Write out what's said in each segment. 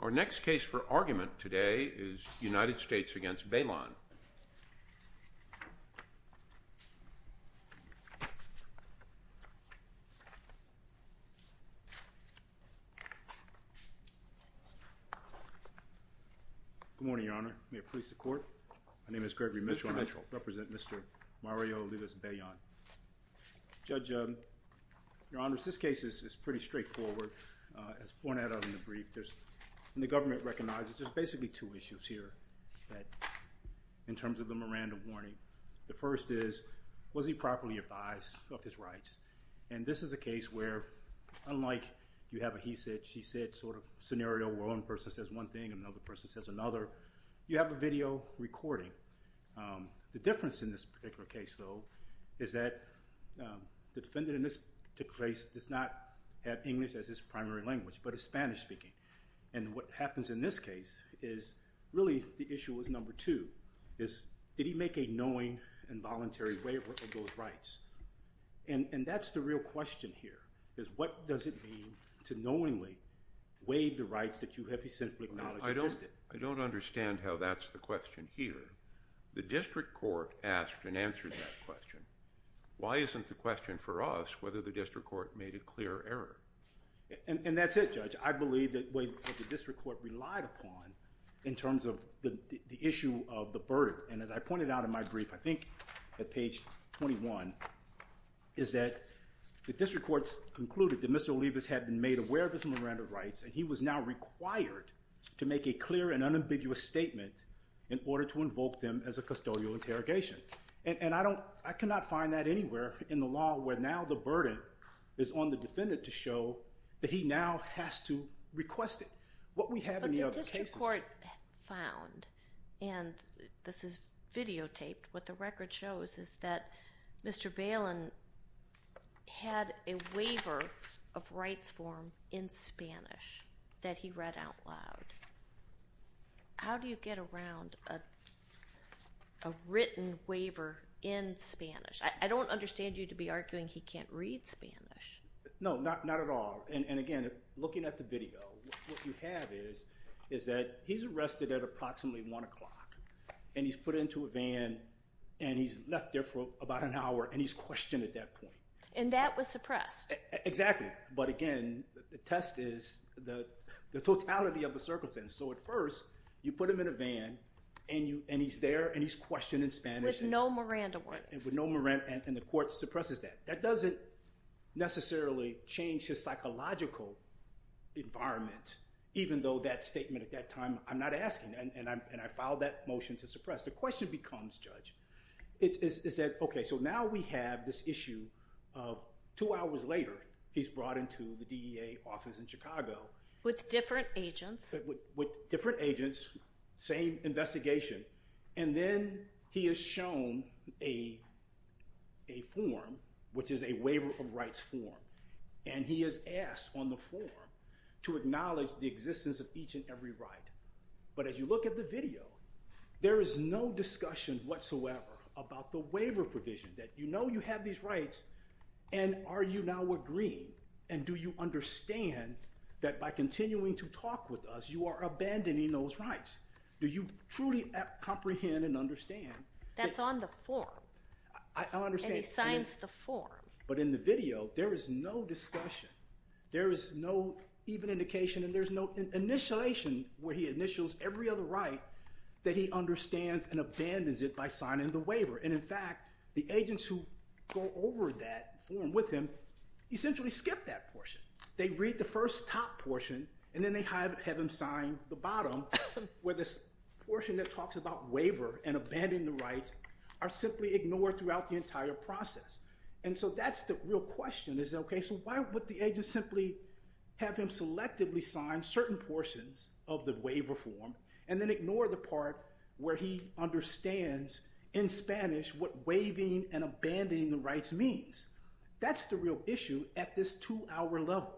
Our next case for argument today is United States v. Bailon Good morning, Your Honor. May it please the Court? My name is Gregory Mitchell and I represent Mr. Mario Olivas Bailon. Judge, Your Honor, this case is pretty straightforward. As pointed out in the brief, there's, and the government recognizes, there's basically two issues here in terms of the Miranda warning. The first is, was he properly advised of his rights? And this is a case where, unlike you have a he said, she said sort of scenario where one person says one thing, another person says another, you have a video recording. The difference in this particular case, though, is that the defendant in this particular case does not have English as his primary language, but is Spanish speaking. And what happens in this case is really the issue is number two, is did he make a knowing and voluntary waiver of those rights? And that's the real question here, is what does it mean to knowingly waive the rights that you have I don't understand how that's the question here. The district court asked and answered that question. Why isn't the question for us whether the district court made a clear error? And that's it, Judge. I believe that the district court relied upon in terms of the issue of the burden. And as I pointed out in my brief, I think at page 21, is that the district courts concluded that Mr. Olivas had been made aware of his Miranda rights and he was now required to make a clear and unambiguous statement in order to invoke them as a custodial interrogation. And I cannot find that anywhere in the law where now the burden is on the defendant to show that he now has to request it. But the district court found, and this is videotaped, what the record shows is that that he read out loud. How do you get around a written waiver in Spanish? I don't understand you to be arguing he can't read Spanish. No, not at all. And again, looking at the video, what you have is that he's arrested at approximately 1 o'clock and he's put into a van and he's left there for about an hour and he's questioned at that point. And that was suppressed. Exactly. But again, the test is the totality of the circumstance. So at first, you put him in a van and he's there and he's questioned in Spanish. With no Miranda rights. With no Miranda, and the court suppresses that. That doesn't necessarily change his psychological environment, even though that statement at that time, I'm not asking, and I filed that motion to suppress. The question becomes, Judge, is that, okay, so now we have this issue of two hours later, he's brought into the DEA office in Chicago. With different agents. With different agents, same investigation. And then he is shown a form, which is a waiver of rights form. And he is asked on the form to acknowledge the existence of each and every right. But as you look at the video, there is no discussion whatsoever about the waiver provision. That you know you have these rights, and are you now agreeing? And do you understand that by continuing to talk with us, you are abandoning those rights? Do you truly comprehend and understand? That's on the form. I understand. And he signs the form. But in the video, there is no discussion. There is no even indication, and there's no initialization where he initials every other right that he understands and abandons it by signing the waiver. And, in fact, the agents who go over that form with him essentially skip that portion. They read the first top portion, and then they have him sign the bottom, where this portion that talks about waiver and abandoning the rights are simply ignored throughout the entire process. And so that's the real question. Okay, so why would the agent simply have him selectively sign certain portions of the waiver form and then ignore the part where he understands in Spanish what waiving and abandoning the rights means? That's the real issue at this two-hour level.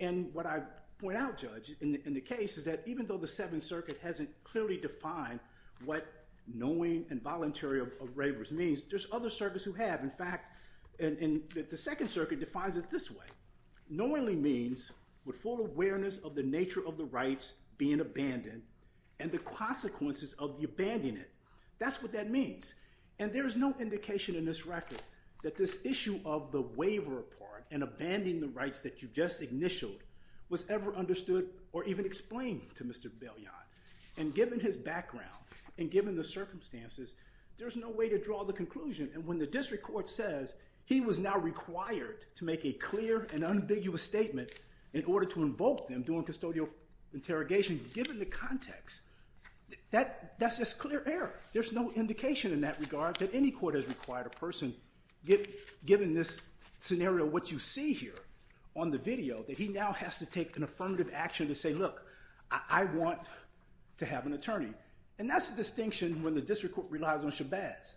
And what I point out, Judge, in the case is that even though the Seventh Circuit hasn't clearly defined what knowing and voluntary of waivers means, there's other circuits who have. In fact, the Second Circuit defines it this way. Knowingly means with full awareness of the nature of the rights being abandoned and the consequences of the abandonment. That's what that means. And there is no indication in this record that this issue of the waiver part and abandoning the rights that you just initialed was ever understood or even explained to Mr. Bellion. And given his background and given the circumstances, there's no way to draw the conclusion. And when the district court says he was now required to make a clear and ambiguous statement in order to invoke them during custodial interrogation, given the context, that's just clear error. There's no indication in that regard that any court has required a person, given this scenario of what you see here on the video, that he now has to take an affirmative action to say, look, I want to have an attorney. And that's the distinction when the district court relies on Chabaz.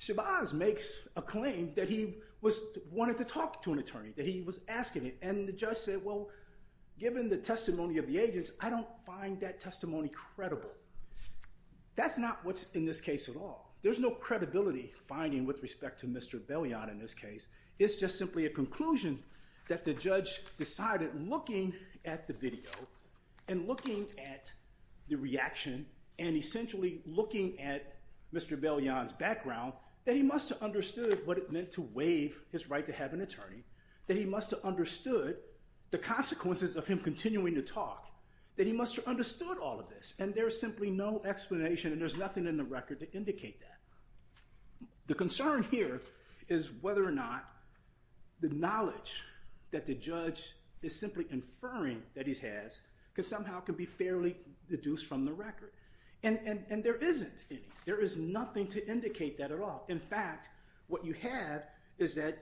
Chabaz makes a claim that he wanted to talk to an attorney, that he was asking it. And the judge said, well, given the testimony of the agents, I don't find that testimony credible. That's not what's in this case at all. There's no credibility finding with respect to Mr. Bellion in this case. It's just simply a conclusion that the judge decided looking at the video and looking at the reaction and essentially looking at Mr. Bellion's background, that he must have understood what it meant to waive his right to have an attorney, that he must have understood the consequences of him continuing to talk, that he must have understood all of this. And there's simply no explanation, and there's nothing in the record to indicate that. The concern here is whether or not the knowledge that the judge is simply inferring that he has can somehow can be fairly deduced from the record. And there isn't any. There is nothing to indicate that at all. In fact, what you have is that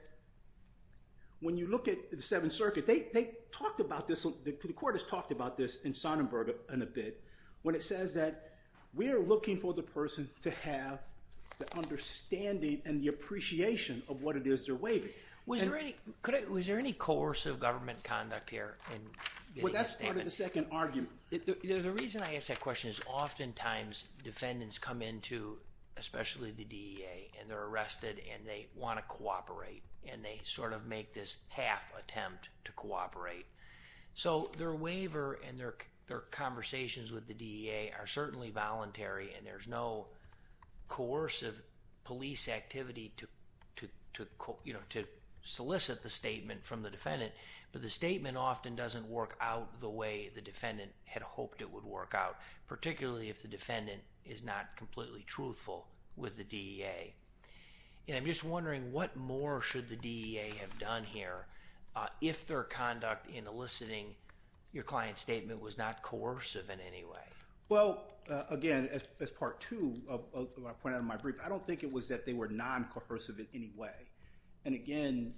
when you look at the Seventh Circuit, they talked about this, the court has talked about this in Sonnenberg in a bit, when it says that we are looking for the person to have the understanding and the appreciation of what it is they're waiving. Was there any coercive government conduct here? Well, that started the second argument. The reason I ask that question is oftentimes defendants come into, especially the DEA, and they're arrested and they want to cooperate, and they sort of make this half attempt to cooperate. So their waiver and their conversations with the DEA are certainly voluntary, and there's no coercive police activity to solicit the statement from the defendant. But the statement often doesn't work out the way the defendant had hoped it would work out, particularly if the defendant is not completely truthful with the DEA. And I'm just wondering what more should the DEA have done here if their conduct in eliciting your client's statement was not coercive in any way? Well, again, as part two of what I pointed out in my brief, I don't think it was that they were non-coercive in any way. And, again,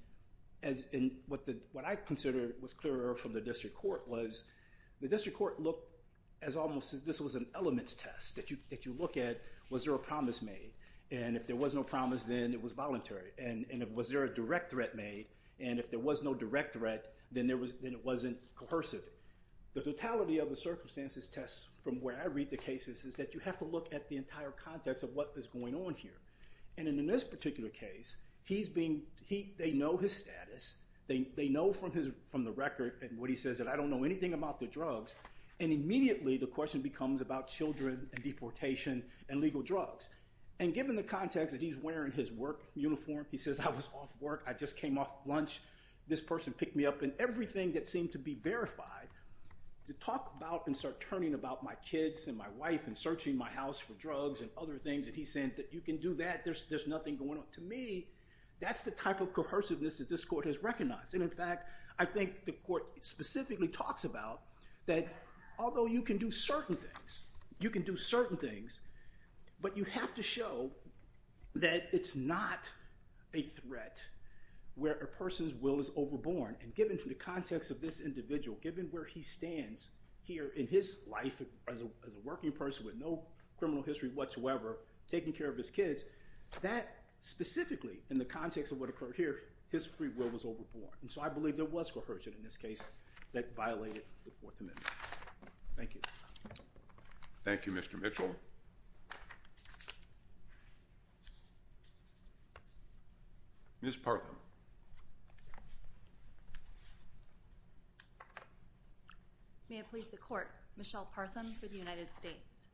what I considered was clear from the district court was the district court looked as almost as if this was an elements test that you look at, was there a promise made? And if there was no promise, then it was voluntary. And was there a direct threat made? And if there was no direct threat, then it wasn't coercive. The totality of the circumstances test, from where I read the cases, is that you have to look at the entire context of what is going on here. And in this particular case, they know his status. They know from the record and what he says that I don't know anything about the drugs. And immediately the question becomes about children and deportation and legal drugs. And given the context that he's wearing his work uniform, he says I was off work, I just came off lunch, this person picked me up, and everything that seemed to be verified, to talk about and start turning about my kids and my wife and searching my house for drugs and other things, and he's saying that you can do that, there's nothing going on. To me, that's the type of coerciveness that this court has recognized. And, in fact, I think the court specifically talks about that although you can do certain things, but you have to show that it's not a threat where a person's will is overborne. And given the context of this individual, given where he stands here in his life as a working person with no criminal history whatsoever, taking care of his kids, that specifically, in the context of what occurred here, his free will was overborne. And so I believe there was coercion in this case that violated the Fourth Amendment. Thank you. Thank you, Mr. Mitchell. Ms. Partham. May it please the Court, Michelle Partham for the United States.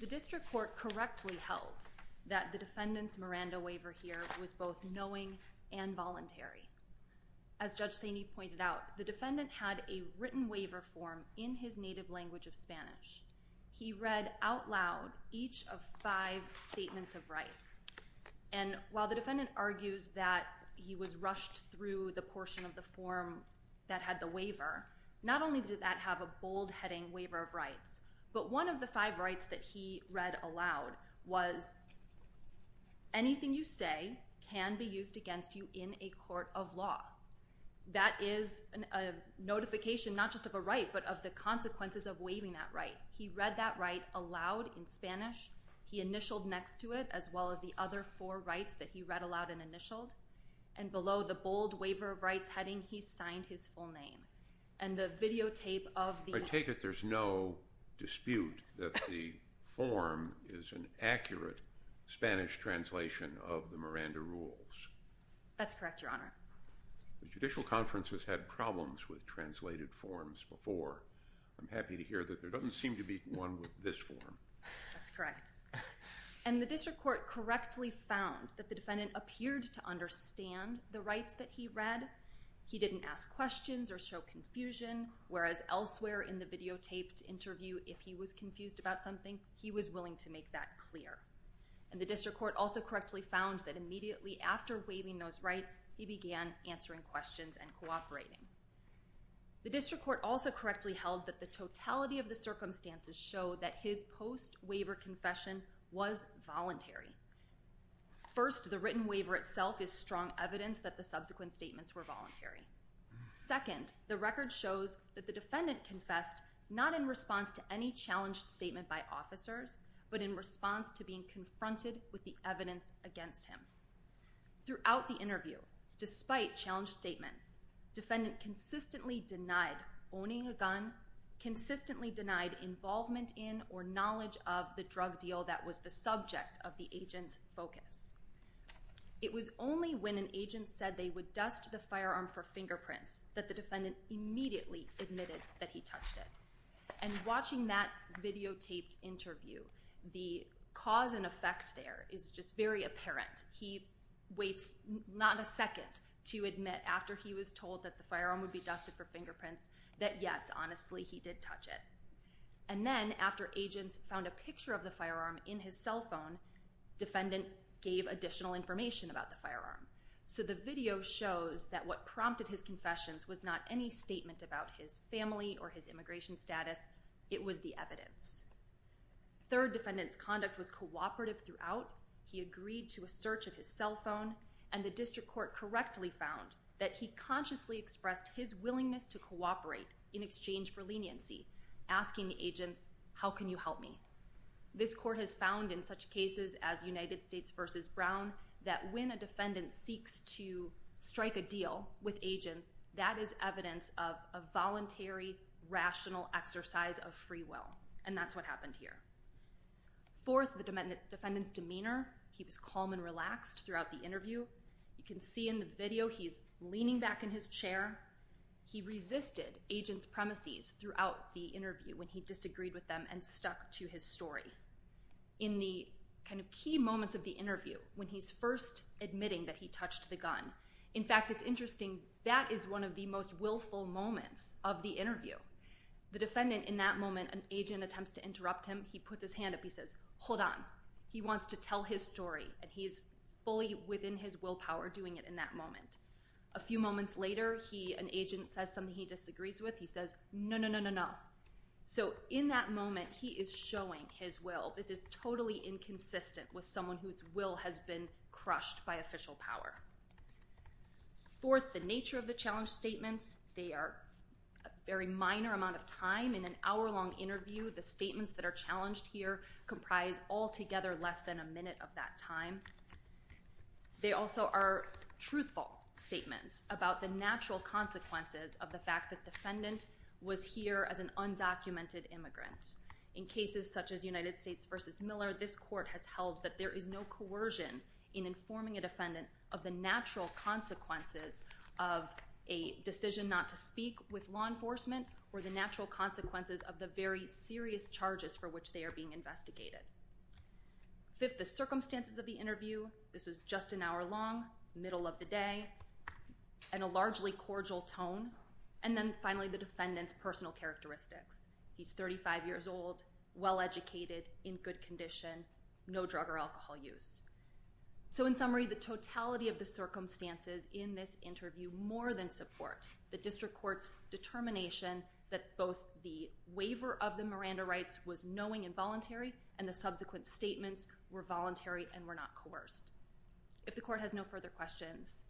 The district court correctly held that the defendant's Miranda waiver here was both knowing and voluntary. As Judge Saney pointed out, the defendant had a written waiver form in his native language of Spanish. He read out loud each of five statements of rights. And while the defendant argues that he was rushed through the portion of the form that had the waiver, not only did that have a bold-heading waiver of rights, but one of the five rights that he read aloud was, anything you say can be used against you in a court of law. That is a notification not just of a right, but of the consequences of waiving that right. He read that right aloud in Spanish. He initialed next to it, as well as the other four rights that he read aloud and initialed. And below the bold waiver of rights heading, he signed his full name. And the videotape of the- Spanish translation of the Miranda rules. That's correct, Your Honor. The judicial conference has had problems with translated forms before. I'm happy to hear that there doesn't seem to be one with this form. That's correct. And the district court correctly found that the defendant appeared to understand the rights that he read. He didn't ask questions or show confusion, whereas elsewhere in the videotaped interview, if he was confused about something, he was willing to make that clear. And the district court also correctly found that immediately after waiving those rights, he began answering questions and cooperating. The district court also correctly held that the totality of the circumstances show that his post-waiver confession was voluntary. First, the written waiver itself is strong evidence that the subsequent statements were voluntary. Second, the record shows that the defendant confessed not in response to any challenged statement by officers, but in response to being confronted with the evidence against him. Throughout the interview, despite challenged statements, defendant consistently denied owning a gun, consistently denied involvement in or knowledge of the drug deal that was the subject of the agent's focus. It was only when an agent said they would dust the firearm for fingerprints that the defendant immediately admitted that he touched it. And watching that videotaped interview, the cause and effect there is just very apparent. He waits not a second to admit after he was told that the firearm would be dusted for fingerprints, that yes, honestly, he did touch it. And then after agents found a picture of the firearm in his cell phone, defendant gave additional information about the firearm. So the video shows that what prompted his confessions was not any statement about his family or his immigration status. It was the evidence. Third, defendant's conduct was cooperative throughout. He agreed to a search of his cell phone, and the district court correctly found that he consciously expressed his willingness to cooperate in exchange for leniency, asking the agents, how can you help me? This court has found in such cases as United States v. Brown, that when a defendant seeks to strike a deal with agents, that is evidence of a voluntary, rational exercise of free will. And that's what happened here. Fourth, the defendant's demeanor. He was calm and relaxed throughout the interview. You can see in the video he's leaning back in his chair. He resisted agents' premises throughout the interview when he disagreed with them and stuck to his story. In the kind of key moments of the interview, when he's first admitting that he touched the gun, in fact, it's interesting, that is one of the most willful moments of the interview. The defendant, in that moment, an agent attempts to interrupt him. He puts his hand up. He says, hold on. He wants to tell his story, and he's fully within his willpower doing it in that moment. A few moments later, he, an agent, says something he disagrees with. He says, no, no, no, no, no. So in that moment, he is showing his will. This is totally inconsistent with someone whose will has been crushed by official power. Fourth, the nature of the challenge statements. They are a very minor amount of time. In an hour-long interview, the statements that are challenged here comprise altogether less than a minute of that time. They also are truthful statements about the natural consequences of the fact that the defendant was here as an undocumented immigrant. In cases such as United States v. Miller, this court has held that there is no coercion in informing a defendant of the natural consequences of a decision not to speak with law enforcement or the natural consequences of the very serious charges for which they are being investigated. Fifth, the circumstances of the interview. This was just an hour long, middle of the day, and a largely cordial tone. And then, finally, the defendant's personal characteristics. He's 35 years old, well-educated, in good condition, no drug or alcohol use. So, in summary, the totality of the circumstances in this interview more than support the district court's determination that both the waiver of the Miranda rights was knowing and voluntary, and the subsequent statements were voluntary and were not coerced. If the court has no further questions,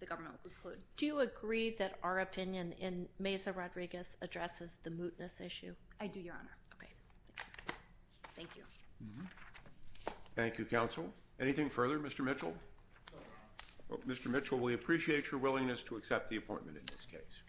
the government will conclude. Do you agree that our opinion in Meza-Rodriguez addresses the mootness issue? I do, Your Honor. Okay. Thank you. Thank you, counsel. Anything further, Mr. Mitchell? No, Your Honor. Mr. Mitchell, we appreciate your willingness to accept the appointment in this case.